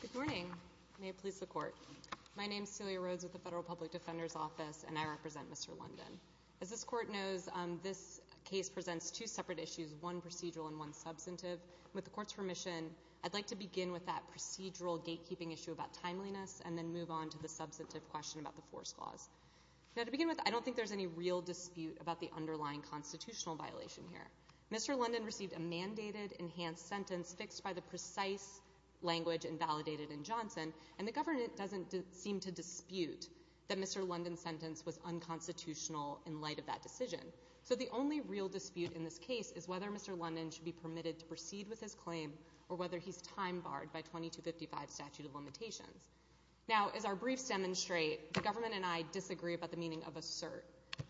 Good morning. May it please the Court. My name is Celia Rhodes with the Federal Public Defender's Office, and I represent Mr. London. As this Court knows, this case presents two separate issues, one procedural and one substantive. With the Court's permission, I'd like to begin with that procedural gatekeeping issue about timeliness and then move on to the substantive question about the force clause. Now, to begin with, I don't think there's any real dispute about the underlying constitutional violation here. Mr. London received a mandated enhanced sentence fixed by the precise language invalidated in Johnson, and the government doesn't seem to dispute that Mr. London's sentence was unconstitutional in light of that decision. So the only real dispute in this case is whether Mr. London should be permitted to proceed with his claim or whether he's time-barred by 2255 statute of limitations. Now, as our briefs demonstrate, the government and I disagree about the meaning of assert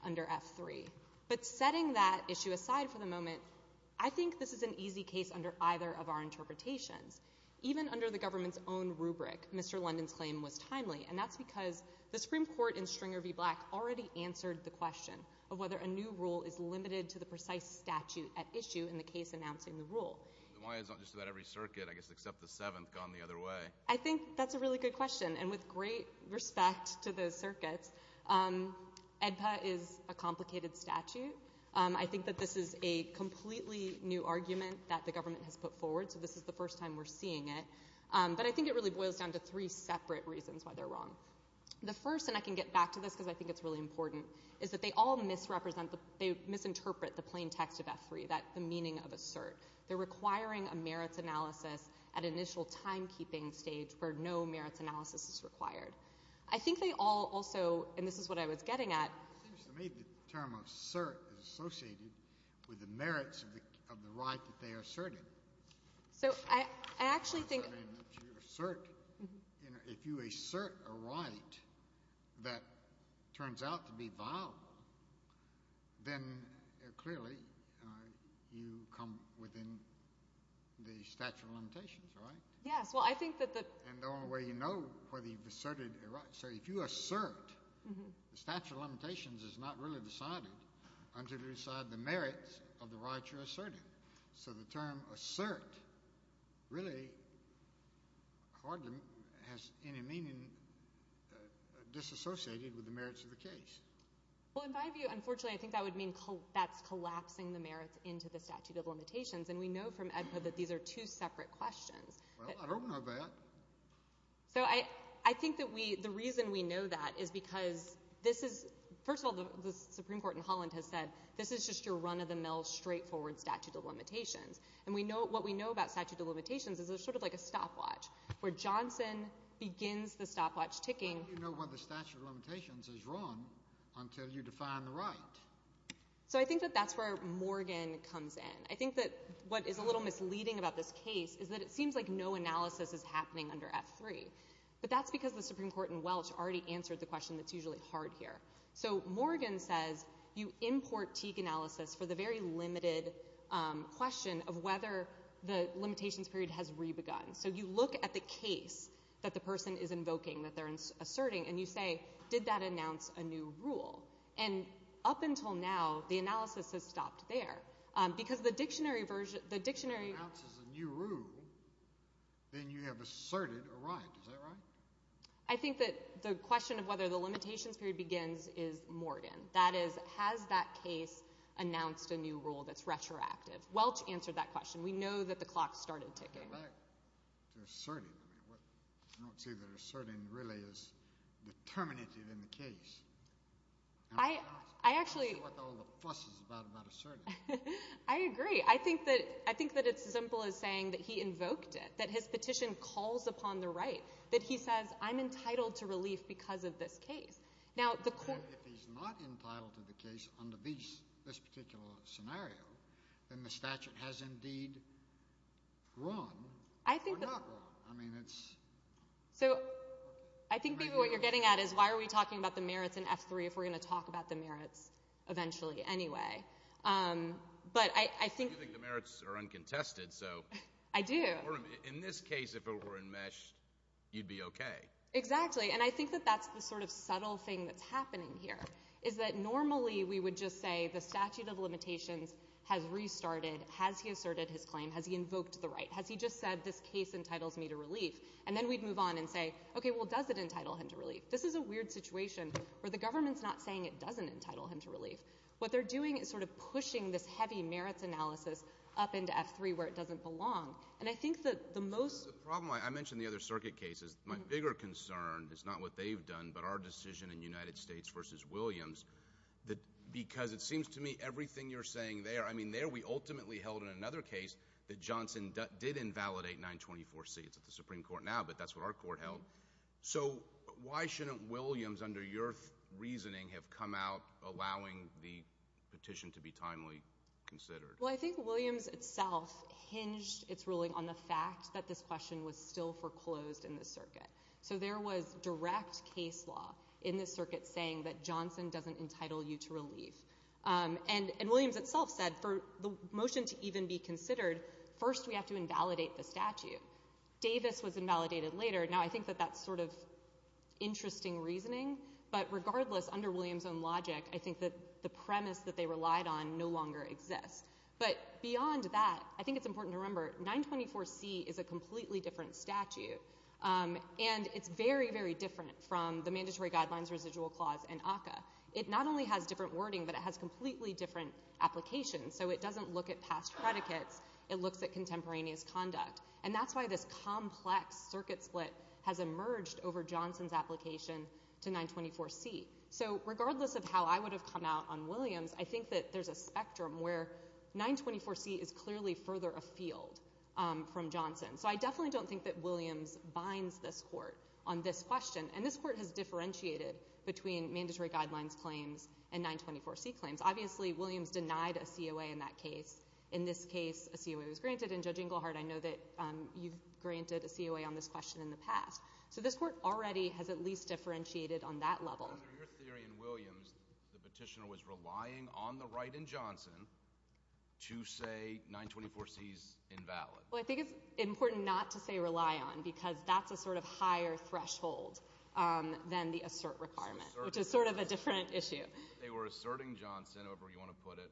under F-3. But setting that issue aside for the moment, I think this is an easy case under either of our interpretations. Even under the government's own rubric, Mr. London's claim was timely, and that's because the Supreme Court in Stringer v. Black already answered the question of whether a new rule is limited to the precise statute at issue in the case announcing the rule. Why is it not just about every circuit, I guess, except the seventh gone the other way? I think that's a really good question. And with great respect to those circuits, AEDPA is a complicated statute. I think that this is a completely new argument that the government has put forward, so this is the first time we're seeing it. But I think it really boils down to three separate reasons why they're wrong. The first, and I can get back to this because I think it's really important, is that they all misrepresent, they misinterpret the plain text of F-3, the meaning of assert. They're requiring a merits analysis at initial timekeeping stage where no merits analysis is required. I think they all also, and this is what I was getting at. It seems to me that the term assert is associated with the merits of the right that they asserted. So I actually think... If you assert a right that turns out to be vile, then clearly you come within the statute of limitations, right? Yes. Well, I think that the... And the only way you know whether you've asserted a right. So if you assert, the statute of limitations is not really decided until you decide the merits of the right you're asserting. So the term assert really hardly has any meaning disassociated with the merits of the case. Well, in my view, unfortunately, I think that would mean that's collapsing the merits into the statute of limitations. And we know from AEDPA that these are two separate questions. Well, I don't know that. So I think that the reason we know that is because this is... And what we know about statute of limitations is there's sort of like a stopwatch where Johnson begins the stopwatch ticking. How do you know when the statute of limitations is wrong until you define the right? So I think that that's where Morgan comes in. I think that what is a little misleading about this case is that it seems like no analysis is happening under F3. But that's because the Supreme Court in Welch already answered the question that's usually hard here. So Morgan says you import Teague analysis for the very limited question of whether the limitations period has re-begun. So you look at the case that the person is invoking, that they're asserting, and you say, did that announce a new rule? And up until now, the analysis has stopped there because the dictionary version... If it announces a new rule, then you have asserted a right. Is that right? I think that the question of whether the limitations period begins is Morgan. That is, has that case announced a new rule that's retroactive? Welch answered that question. We know that the clock started ticking. To assert it. I don't see that asserting really is determinative in the case. I actually... I see what all the fuss is about about asserting. I agree. I think that it's as simple as saying that he invoked it, that his petition calls upon the right, that he says I'm entitled to relief because of this case. Now, the court... If he's not entitled to the case under this particular scenario, then the statute has indeed run or not run. I mean, it's... So I think, David, what you're getting at is why are we talking about the merits in F3 if we're going to talk about the merits eventually anyway? But I think... You think the merits are uncontested, so... I do. In this case, if it were enmeshed, you'd be okay. Exactly. And I think that that's the sort of subtle thing that's happening here is that normally we would just say the statute of limitations has restarted. Has he asserted his claim? Has he invoked the right? Has he just said this case entitles me to relief? And then we'd move on and say, okay, well, does it entitle him to relief? This is a weird situation where the government's not saying it doesn't entitle him to relief. What they're doing is sort of pushing this heavy merits analysis up into F3 where it doesn't belong. And I think that the most... The problem, I mentioned the other circuit cases. My bigger concern is not what they've done but our decision in United States versus Williams. Because it seems to me everything you're saying there, I mean, there we ultimately held in another case that Johnson did invalidate 924C. It's at the Supreme Court now, but that's what our court held. So why shouldn't Williams, under your reasoning, have come out allowing the petition to be timely considered? Well, I think Williams itself hinged its ruling on the fact that this question was still foreclosed in the circuit. So there was direct case law in the circuit saying that Johnson doesn't entitle you to relief. And Williams itself said for the motion to even be considered, first we have to invalidate the statute. Davis was invalidated later. Now, I think that that's sort of interesting reasoning. But regardless, under Williams' own logic, I think that the premise that they relied on no longer exists. But beyond that, I think it's important to remember, 924C is a completely different statute. And it's very, very different from the Mandatory Guidelines, Residual Clause, and ACCA. It not only has different wording, but it has completely different applications. So it doesn't look at past predicates. It looks at contemporaneous conduct. And that's why this complex circuit split has emerged over Johnson's application to 924C. So regardless of how I would have come out on Williams, I think that there's a spectrum where 924C is clearly further afield from Johnson. So I definitely don't think that Williams binds this court on this question. And this court has differentiated between Mandatory Guidelines claims and 924C claims. Obviously, Williams denied a COA in that case. In this case, a COA was granted. And Judge Inglehart, I know that you've granted a COA on this question in the past. So this court already has at least differentiated on that level. Under your theory in Williams, the petitioner was relying on the right in Johnson to say 924C is invalid. Well, I think it's important not to say rely on because that's a sort of higher threshold than the assert requirement, which is sort of a different issue. They were asserting Johnson, however you want to put it,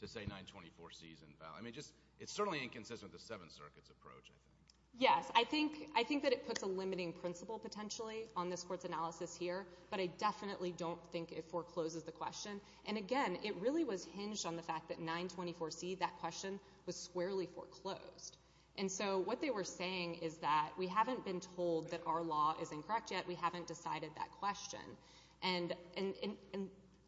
to say 924C is invalid. I mean, it's certainly inconsistent with the Seventh Circuit's approach, I think. Yes, I think that it puts a limiting principle potentially on this court's analysis here. But I definitely don't think it forecloses the question. And, again, it really was hinged on the fact that 924C, that question, was squarely foreclosed. And so what they were saying is that we haven't been told that our law is incorrect yet. We haven't decided that question. And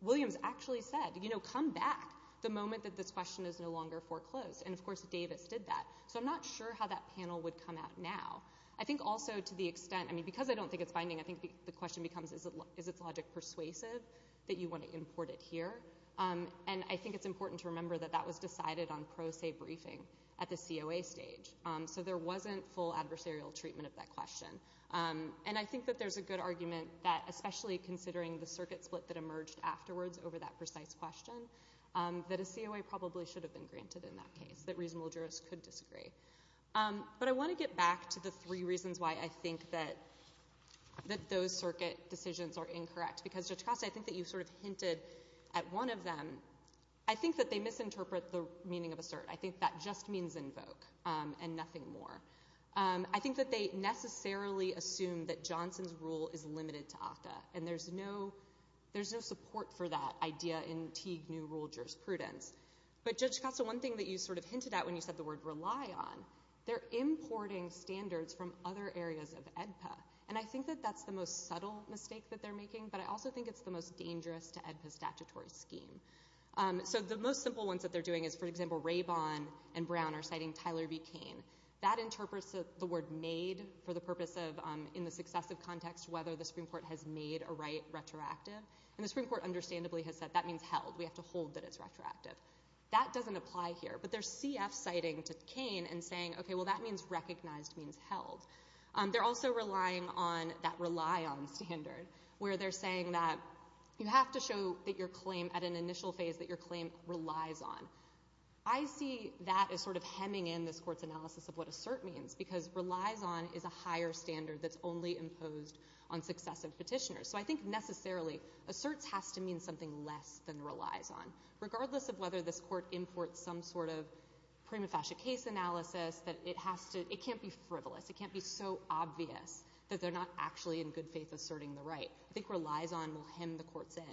Williams actually said, you know, come back the moment that this question is no longer foreclosed. And, of course, Davis did that. So I'm not sure how that panel would come out now. I think also to the extent, I mean, because I don't think it's binding, I think the question becomes is its logic persuasive that you want to import it here? And I think it's important to remember that that was decided on pro se briefing at the COA stage. So there wasn't full adversarial treatment of that question. And I think that there's a good argument that, especially considering the circuit split that emerged afterwards over that precise question, that a COA probably should have been granted in that case, that reasonable jurists could disagree. But I want to get back to the three reasons why I think that those circuit decisions are incorrect. Because, Judge Costa, I think that you sort of hinted at one of them. I think that they misinterpret the meaning of assert. I think that just means invoke and nothing more. I think that they necessarily assume that Johnson's rule is limited to ACTA, and there's no support for that idea in Teague New Rule jurisprudence. But, Judge Costa, one thing that you sort of hinted at when you said the word rely on, they're importing standards from other areas of AEDPA. And I think that that's the most subtle mistake that they're making, but I also think it's the most dangerous to AEDPA's statutory scheme. So the most simple ones that they're doing is, for example, Rabon and Brown are citing Tyler B. Cain. That interprets the word made for the purpose of, in the successive context, whether the Supreme Court has made a right retroactive. And the Supreme Court understandably has said that means held. We have to hold that it's retroactive. That doesn't apply here. But there's CF citing to Cain and saying, okay, well, that means recognized means held. They're also relying on that rely on standard, where they're saying that you have to show that your claim, at an initial phase, that your claim relies on. I see that as sort of hemming in this Court's analysis of what assert means, because relies on is a higher standard that's only imposed on successive petitioners. So I think, necessarily, asserts has to mean something less than relies on, regardless of whether this Court imports some sort of prima facie case analysis. It can't be frivolous. It can't be so obvious that they're not actually, in good faith, asserting the right. I think relies on will hem the Court's in.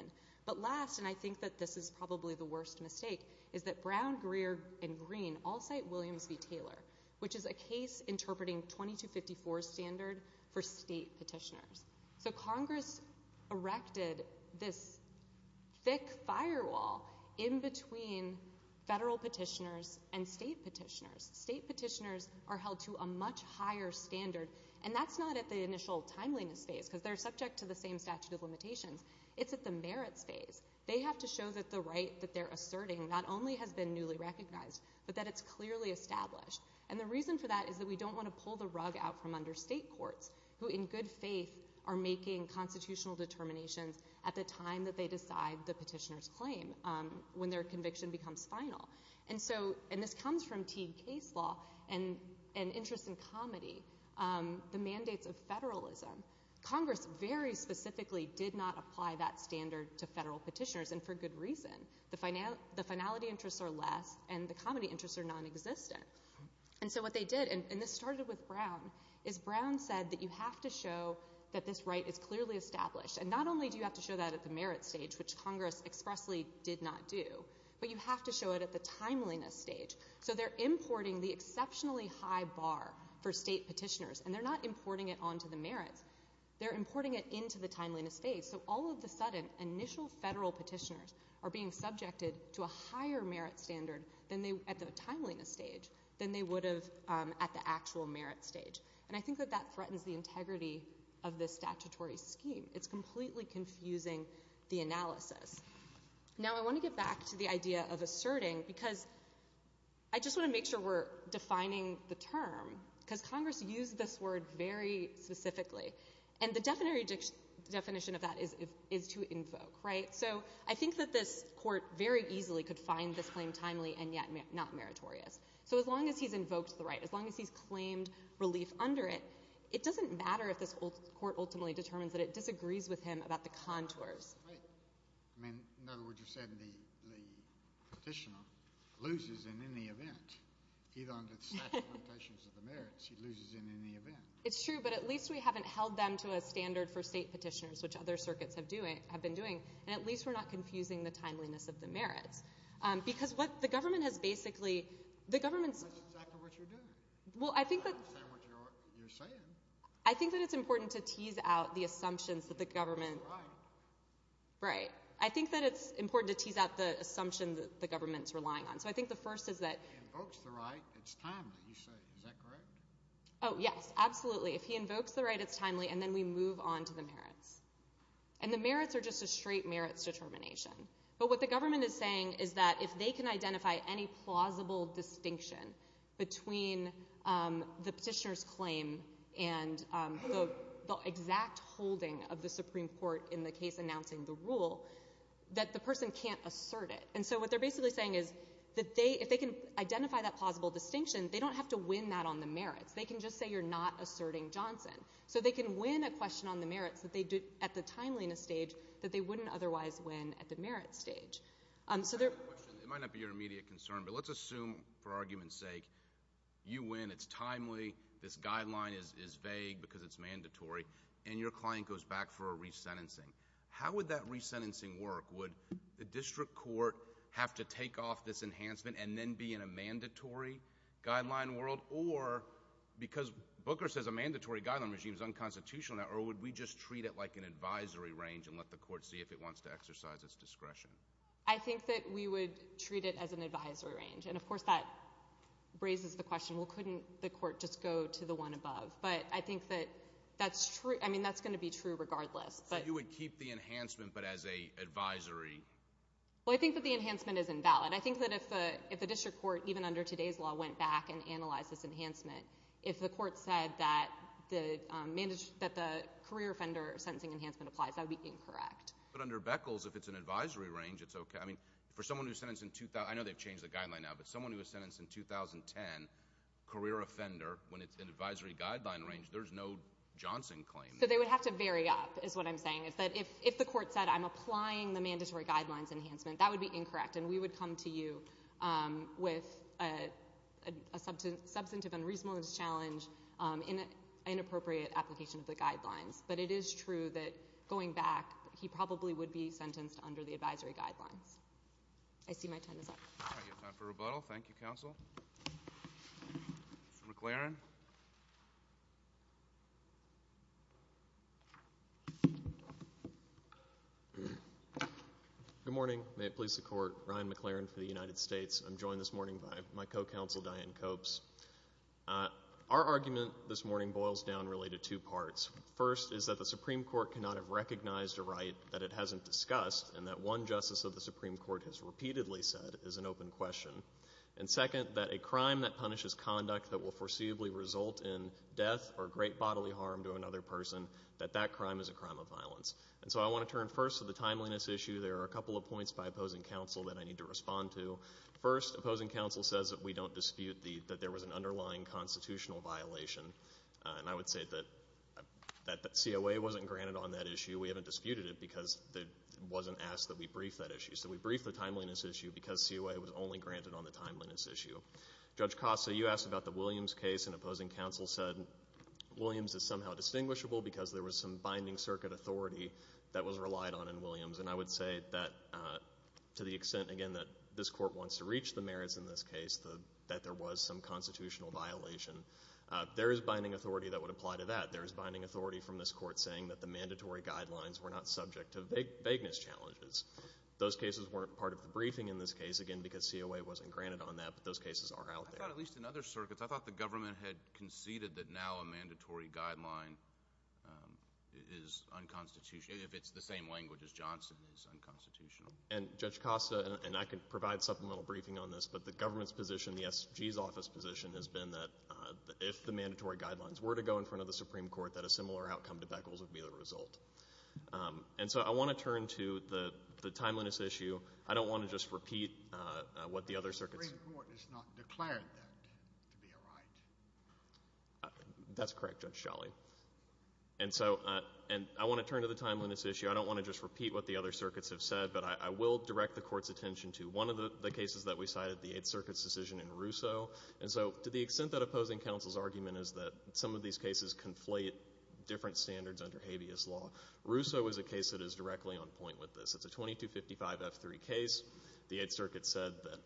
But last, and I think that this is probably the worst mistake, is that Brown, Greer, and Green all cite Williams v. Taylor, which is a case interpreting 2254 standard for state petitioners. So Congress erected this thick firewall in between federal petitioners and state petitioners. State petitioners are held to a much higher standard. And that's not at the initial timeliness phase, because they're subject to the same statute of limitations. It's at the merits phase. They have to show that the right that they're asserting not only has been newly recognized, but that it's clearly established. And the reason for that is that we don't want to pull the rug out from understate courts, who in good faith are making constitutional determinations at the time that they decide the petitioner's claim, when their conviction becomes final. And this comes from Teague case law and interest in comedy, the mandates of federalism. Congress very specifically did not apply that standard to federal petitioners, and for good reason. The finality interests are less, and the comedy interests are nonexistent. And so what they did, and this started with Brown, is Brown said that you have to show that this right is clearly established. And not only do you have to show that at the merits stage, which Congress expressly did not do, but you have to show it at the timeliness stage. So they're importing the exceptionally high bar for state petitioners, and they're not importing it onto the merits. They're importing it into the timeliness stage. So all of the sudden, initial federal petitioners are being subjected to a higher merit standard at the timeliness stage than they would have at the actual merit stage. And I think that that threatens the integrity of this statutory scheme. It's completely confusing the analysis. Now, I want to get back to the idea of asserting, because I just want to make sure we're defining the term, because Congress used this word very specifically. And the definition of that is to invoke, right? So I think that this Court very easily could find this claim timely and yet not meritorious. So as long as he's invoked the right, as long as he's claimed relief under it, it doesn't matter if this Court ultimately determines that it disagrees with him about the contours. In other words, you said the petitioner loses in any event. Even under the statutory limitations of the merits, he loses in any event. It's true, but at least we haven't held them to a standard for state petitioners, which other circuits have been doing. And at least we're not confusing the timeliness of the merits. Because what the government has basically— That's exactly what you're doing. I don't understand what you're saying. I think that it's important to tease out the assumptions that the government— Right. Right. I think that it's important to tease out the assumption that the government's relying on. So I think the first is that— If he invokes the right, it's timely, you say. Is that correct? Oh, yes, absolutely. If he invokes the right, it's timely, and then we move on to the merits. And the merits are just a straight merits determination. But what the government is saying is that if they can identify any plausible distinction between the petitioner's claim and the exact holding of the Supreme Court in the case announcing the rule, that the person can't assert it. And so what they're basically saying is that if they can identify that plausible distinction, they don't have to win that on the merits. They can just say you're not asserting Johnson. So they can win a question on the merits that they did at the timeliness stage that they wouldn't otherwise win at the merits stage. It might not be your immediate concern, but let's assume, for argument's sake, you win, it's timely, this guideline is vague because it's mandatory, and your client goes back for a resentencing. How would that resentencing work? Would the district court have to take off this enhancement and then be in a mandatory guideline world? Or, because Booker says a mandatory guideline regime is unconstitutional now, or would we just treat it like an advisory range and let the court see if it wants to exercise its discretion? I think that we would treat it as an advisory range. And, of course, that raises the question, well, couldn't the court just go to the one above? But I think that that's true. I mean, that's going to be true regardless. So you would keep the enhancement but as an advisory? Well, I think that the enhancement is invalid. I think that if the district court, even under today's law, went back and analyzed this enhancement, if the court said that the career offender sentencing enhancement applies, that would be incorrect. But under Beckles, if it's an advisory range, it's okay. I mean, for someone who was sentenced in 2000 – I know they've changed the guideline now, but someone who was sentenced in 2010, career offender, when it's an advisory guideline range, there's no Johnson claim. So they would have to vary up, is what I'm saying. If the court said, I'm applying the mandatory guidelines enhancement, that would be incorrect, and we would come to you with a substantive unreasonable challenge in an inappropriate application of the guidelines. But it is true that going back, he probably would be sentenced under the advisory guidelines. I see my time is up. All right. You have time for rebuttal. Thank you, counsel. Mr. McLaren. Good morning. May it please the Court, Ryan McLaren for the United States. I'm joined this morning by my co-counsel, Diane Copes. Our argument this morning boils down really to two parts. First is that the Supreme Court cannot have recognized a right that it hasn't discussed and that one justice of the Supreme Court has repeatedly said is an open question. And second, that a crime that punishes conduct that will foreseeably result in death or great bodily harm to another person, that that crime is a crime of violence. And so I want to turn first to the timeliness issue. There are a couple of points by opposing counsel that I need to respond to. First, opposing counsel says that we don't dispute that there was an underlying constitutional violation. And I would say that COA wasn't granted on that issue. We haven't disputed it because it wasn't asked that we brief that issue. So we brief the timeliness issue because COA was only granted on the timeliness issue. Judge Costa, you asked about the Williams case, and opposing counsel said Williams is somehow distinguishable because there was some binding circuit authority that was relied on in Williams. And I would say that to the extent, again, that this Court wants to reach the merits in this case, that there was some constitutional violation, there is binding authority that would apply to that. There is binding authority from this Court saying that the mandatory guidelines were not subject to vagueness challenges. Those cases weren't part of the briefing in this case, again, because COA wasn't granted on that, but those cases are out there. I thought at least in other circuits, I thought the government had conceded that now a mandatory guideline is unconstitutional, if it's the same language as Johnson, is unconstitutional. And, Judge Costa, and I can provide supplemental briefing on this, but the government's position, the SG's office position has been that if the mandatory guidelines were to go in front of the Supreme Court, that a similar outcome to Beckles would be the result. And so I want to turn to the timeliness issue. I don't want to just repeat what the other circuits. The Supreme Court has not declared that to be a right. That's correct, Judge Scholle. And so I want to turn to the timeliness issue. I don't want to just repeat what the other circuits have said, but I will direct the Court's attention to one of the cases that we cited, the Eighth Circuit's decision in Russo. And so to the extent that opposing counsel's argument is that some of these cases conflate different standards under habeas law, Russo is a case that is directly on point with this. It's a 2255F3 case. The Eighth Circuit said that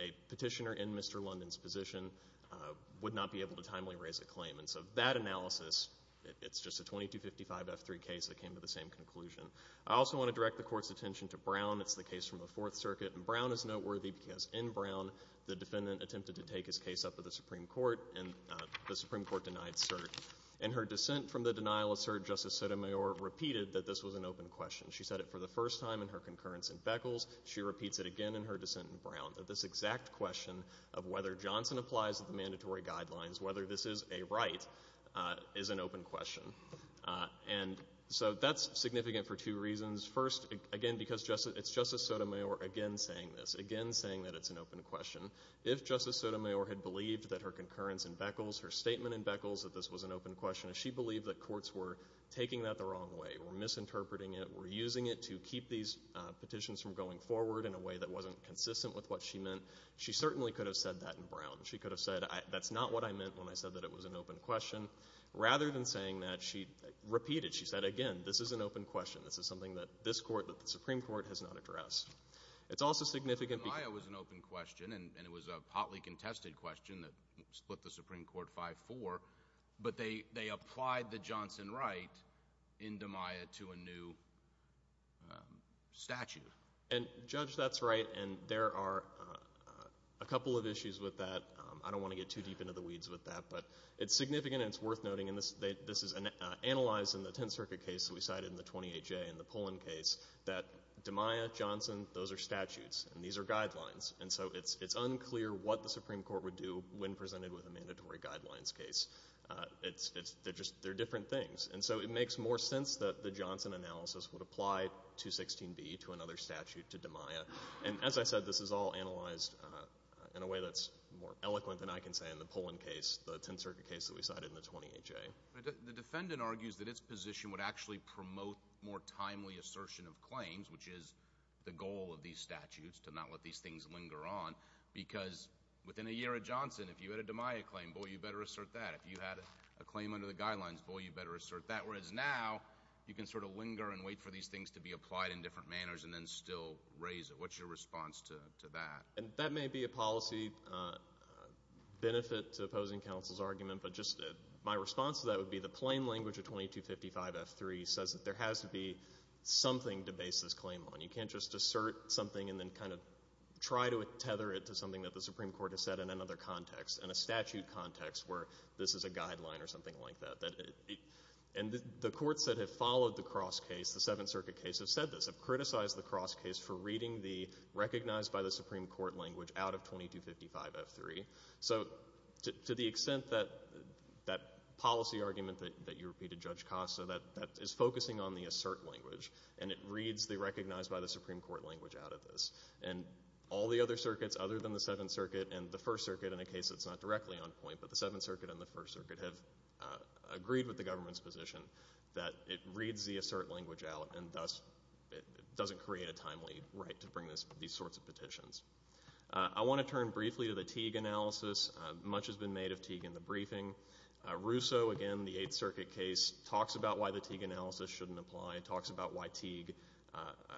a petitioner in Mr. London's position would not be able to timely raise a claim. And so that analysis, it's just a 2255F3 case that came to the same conclusion. I also want to direct the Court's attention to Brown. It's the case from the Fourth Circuit. And Brown is noteworthy because in Brown, the defendant attempted to take his case up to the Supreme Court, and the Supreme Court denied cert. In her dissent from the denial of cert, Justice Sotomayor repeated that this was an open question. She said it for the first time in her concurrence in Beckles. She repeats it again in her dissent in Brown, that this exact question of whether Johnson applies to the mandatory guidelines, whether this is a right, is an open question. And so that's significant for two reasons. First, again, because it's Justice Sotomayor again saying this, again saying that it's an open question. If Justice Sotomayor had believed that her concurrence in Beckles, her statement in Beckles, that this was an open question, if she believed that courts were taking that the wrong way, were misinterpreting it, were using it to keep these petitions from going forward in a way that wasn't consistent with what she meant, she certainly could have said that in Brown. She could have said, that's not what I meant when I said that it was an open question. Rather than saying that, she repeated it. She said, again, this is an open question. This is something that this Court, that the Supreme Court, has not addressed. It's also significant because – Demeyer was an open question, and it was a potly contested question that split the Supreme Court 5-4. But they applied the Johnson right in Demeyer to a new statute. And, Judge, that's right, and there are a couple of issues with that. I don't want to get too deep into the weeds with that. But it's significant and it's worth noting, and this is analyzed in the Tenth Circuit case that we cited in the 28-J and the Pullen case, that Demeyer, Johnson, those are statutes, and these are guidelines, and so it's unclear what the Supreme Court would do when presented with a mandatory guidelines case. They're just – they're different things. And so it makes more sense that the Johnson analysis would apply 216B to another statute, to Demeyer. And as I said, this is all analyzed in a way that's more eloquent than I can say in the Pullen case, the Tenth Circuit case that we cited in the 28-J. The defendant argues that its position would actually promote more timely assertion of claims, which is the goal of these statutes, to not let these things linger on, because within a year at Johnson, if you had a Demeyer claim, boy, you better assert that. If you had a claim under the guidelines, boy, you better assert that, whereas now you can sort of linger and wait for these things to be applied in different manners and then still raise it. What's your response to that? That may be a policy benefit to opposing counsel's argument, but just my response to that would be the plain language of 2255F3 says that there has to be something to base this claim on. You can't just assert something and then kind of try to tether it to something that the Supreme Court has said in another context, in a statute context where this is a guideline or something like that. And the courts that have followed the cross case, the Seventh Circuit case, have said this, have criticized the cross case for reading the recognized-by-the-Supreme-Court language out of 2255F3. So to the extent that that policy argument that you repeated, Judge Costa, that is focusing on the assert language, and it reads the recognized-by-the-Supreme-Court language out of this, and all the other circuits other than the Seventh Circuit and the First Circuit in a case that's not directly on point, but the Seventh Circuit and the First Circuit have agreed with the government's position that it reads the assert language out and thus doesn't create a timely right to bring these sorts of petitions. I want to turn briefly to the Teague analysis. Much has been made of Teague in the briefing. Russo, again, the Eighth Circuit case, talks about why the Teague analysis shouldn't apply, talks about why Teague,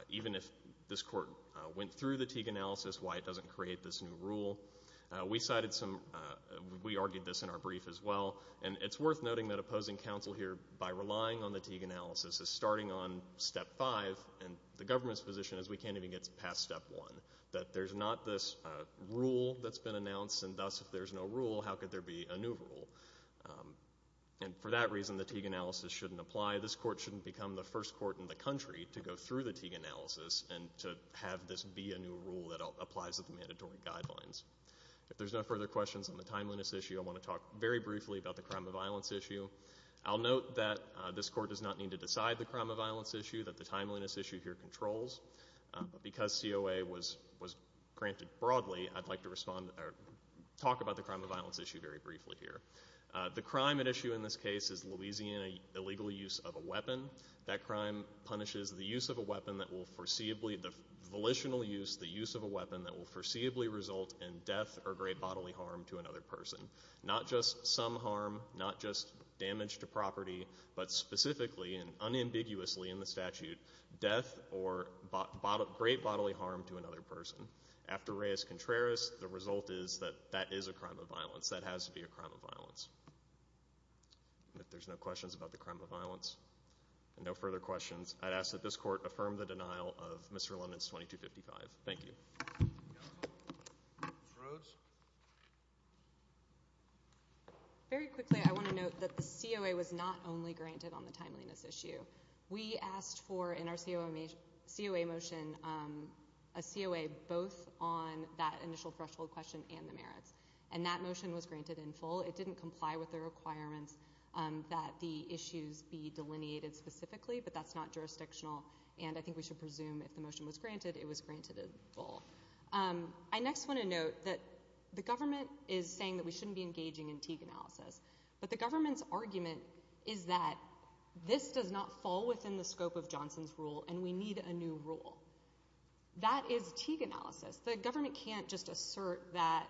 even if this Court went through the Teague analysis, why it doesn't create this new rule. We argued this in our brief as well, and it's worth noting that opposing counsel here, by relying on the Teague analysis, is starting on Step 5, and the government's position is we can't even get past Step 1, that there's not this rule that's been announced, and thus if there's no rule, how could there be a new rule? And for that reason, the Teague analysis shouldn't apply. This Court shouldn't become the first court in the country to go through the Teague analysis and to have this be a new rule that applies to the mandatory guidelines. If there's no further questions on the timeliness issue, I want to talk very briefly about the crime of violence issue. I'll note that this Court does not need to decide the crime of violence issue, that the timeliness issue here controls, but because COA was granted broadly, I'd like to talk about the crime of violence issue very briefly here. The crime at issue in this case is Louisiana illegal use of a weapon. That crime punishes the use of a weapon that will foreseeably, the volitional use, the use of a weapon that will foreseeably result in death or great bodily harm to another person. Not just some harm, not just damage to property, but specifically and unambiguously in the statute, death or great bodily harm to another person. After Reyes-Contreras, the result is that that is a crime of violence. That has to be a crime of violence. If there's no questions about the crime of violence and no further questions, I'd ask that this Court affirm the denial of Mr. Lennon's 2255. Thank you. Very quickly, I want to note that the COA was not only granted on the timeliness issue. We asked for, in our COA motion, a COA both on that initial threshold question and the merits, and that motion was granted in full. It didn't comply with the requirements that the issues be delineated specifically, but that's not jurisdictional, and I think we should presume if the motion was granted, it was granted in full. I next want to note that the government is saying that we shouldn't be engaging in Teague analysis, but the government's argument is that this does not fall within the scope of Johnson's rule, and we need a new rule. That is Teague analysis. The government can't just assert that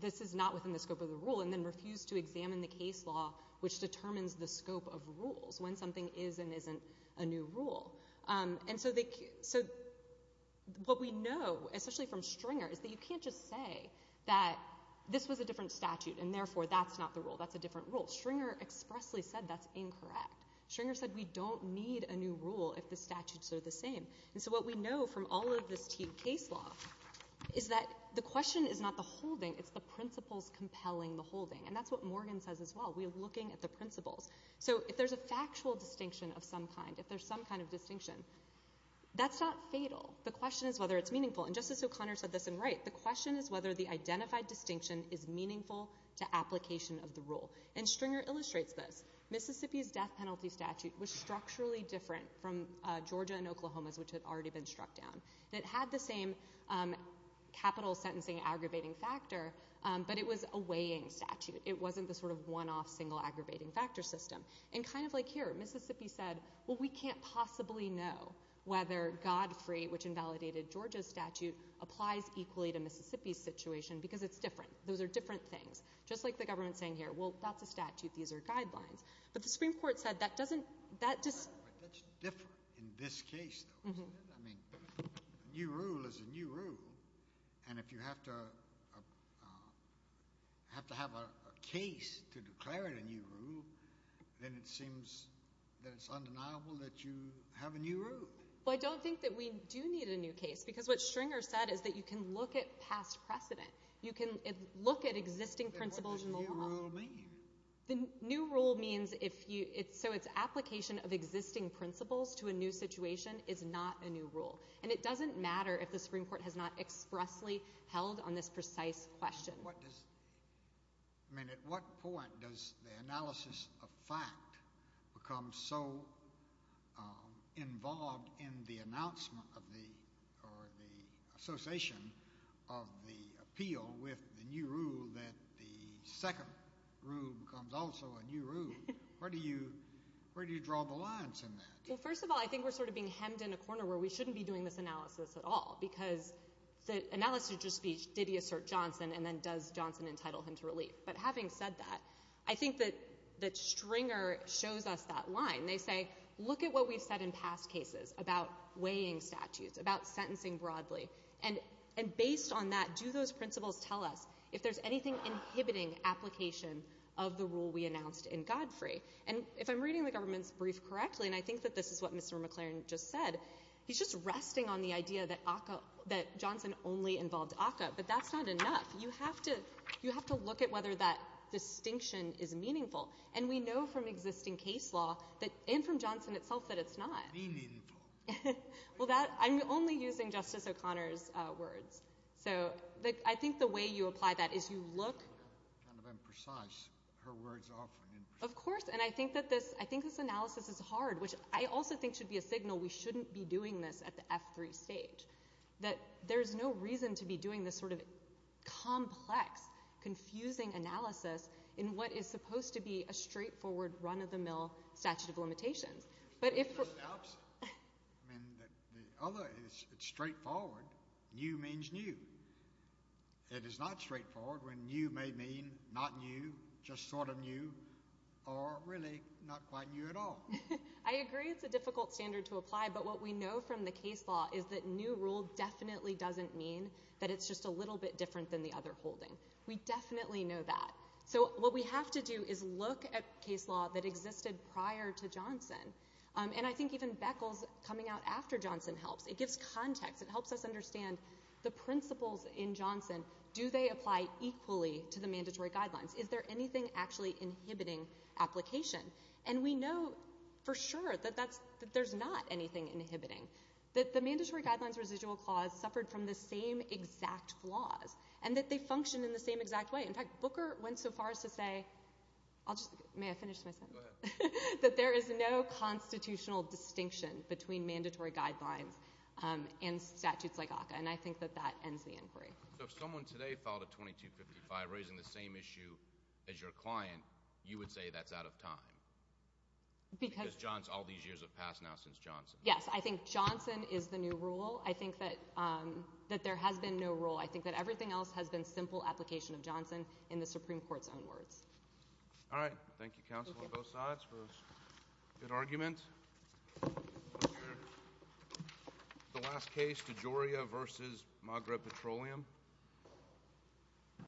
this is not within the scope of the rule and then refuse to examine the case law which determines the scope of rules when something is and isn't a new rule. And so what we know, especially from Stringer, is that you can't just say that this was a different statute, and therefore that's not the rule. That's a different rule. Stringer expressly said that's incorrect. Stringer said we don't need a new rule if the statutes are the same. And so what we know from all of this Teague case law is that the question is not the holding, it's the principles compelling the holding. And that's what Morgan says as well. We are looking at the principles. So if there's a factual distinction of some kind, if there's some kind of distinction, that's not fatal. The question is whether it's meaningful. And Justice O'Connor said this, and right, the question is whether the identified distinction is meaningful to application of the rule. And Stringer illustrates this. Mississippi's death penalty statute was structurally different from Georgia than Oklahoma's, which had already been struck down. It had the same capital sentencing aggravating factor, but it was a weighing statute. It wasn't the sort of one-off single aggravating factor system. And kind of like here, Mississippi said, well, we can't possibly know whether Godfrey, which invalidated Georgia's statute, applies equally to Mississippi's situation because it's different. Those are different things. Just like the government's saying here, well, that's a statute. These are guidelines. But the Supreme Court said that doesn't ---- That's different in this case, though, isn't it? I mean, a new rule is a new rule, and if you have to have a case to declare it a new rule, then it seems that it's undeniable that you have a new rule. Well, I don't think that we do need a new case because what Stringer said is that you can look at past precedent. You can look at existing principles in the law. What does a new rule mean? The new rule means if you ---- So its application of existing principles to a new situation is not a new rule. And it doesn't matter if the Supreme Court has not expressly held on this precise question. What does ---- I mean, at what point does the analysis of fact become so involved in the announcement of the association of the appeal with the new rule that the second rule becomes also a new rule? Where do you draw the lines in that? Well, first of all, I think we're sort of being hemmed in a corner where we shouldn't be doing this analysis at all because the analysis of your speech, did he assert Johnson, and then does Johnson entitle him to relief? But having said that, I think that Stringer shows us that line. They say, look at what we've said in past cases about weighing statutes, about sentencing broadly, and based on that, do those principles tell us if there's anything inhibiting application of the rule we announced in Godfrey? And if I'm reading the government's brief correctly, and I think that this is what Mr. McLaren just said, he's just resting on the idea that ACCA ---- that Johnson only involved ACCA. But that's not enough. You have to look at whether that distinction is meaningful. And we know from existing case law and from Johnson itself that it's not. Well, that ---- I'm only using Justice O'Connor's words. So I think the way you apply that is you look ---- I'm kind of imprecise. Her words are often imprecise. Of course, and I think that this analysis is hard, which I also think should be a signal we shouldn't be doing this at the F3 stage, that there's no reason to be doing this sort of complex, confusing analysis in what is supposed to be a straightforward, run-of-the-mill statute of limitations. But if ---- I mean, the other is it's straightforward. New means new. It is not straightforward when new may mean not new, just sort of new, or really not quite new at all. I agree it's a difficult standard to apply. But what we know from the case law is that new rule definitely doesn't mean that it's just a little bit different than the other holding. We definitely know that. So what we have to do is look at case law that existed prior to Johnson. And I think even Beckles coming out after Johnson helps. It gives context. It helps us understand the principles in Johnson. Do they apply equally to the mandatory guidelines? Is there anything actually inhibiting application? And we know for sure that there's not anything inhibiting, that the mandatory guidelines residual clause suffered from the same exact flaws and that they function in the same exact way. In fact, Booker went so far as to say ---- may I finish my sentence? Go ahead. That there is no constitutional distinction between mandatory guidelines and statutes like ACCA. And I think that that ends the inquiry. So if someone today filed a 2255 raising the same issue as your client, you would say that's out of time? Because all these years have passed now since Johnson. Yes. I think Johnson is the new rule. I think that there has been no rule. I think that everything else has been simple application of Johnson in the Supreme Court's own words. All right. Thank you, counsel, on both sides for this good argument. The last case, DeGioia v. Magra Petroleum.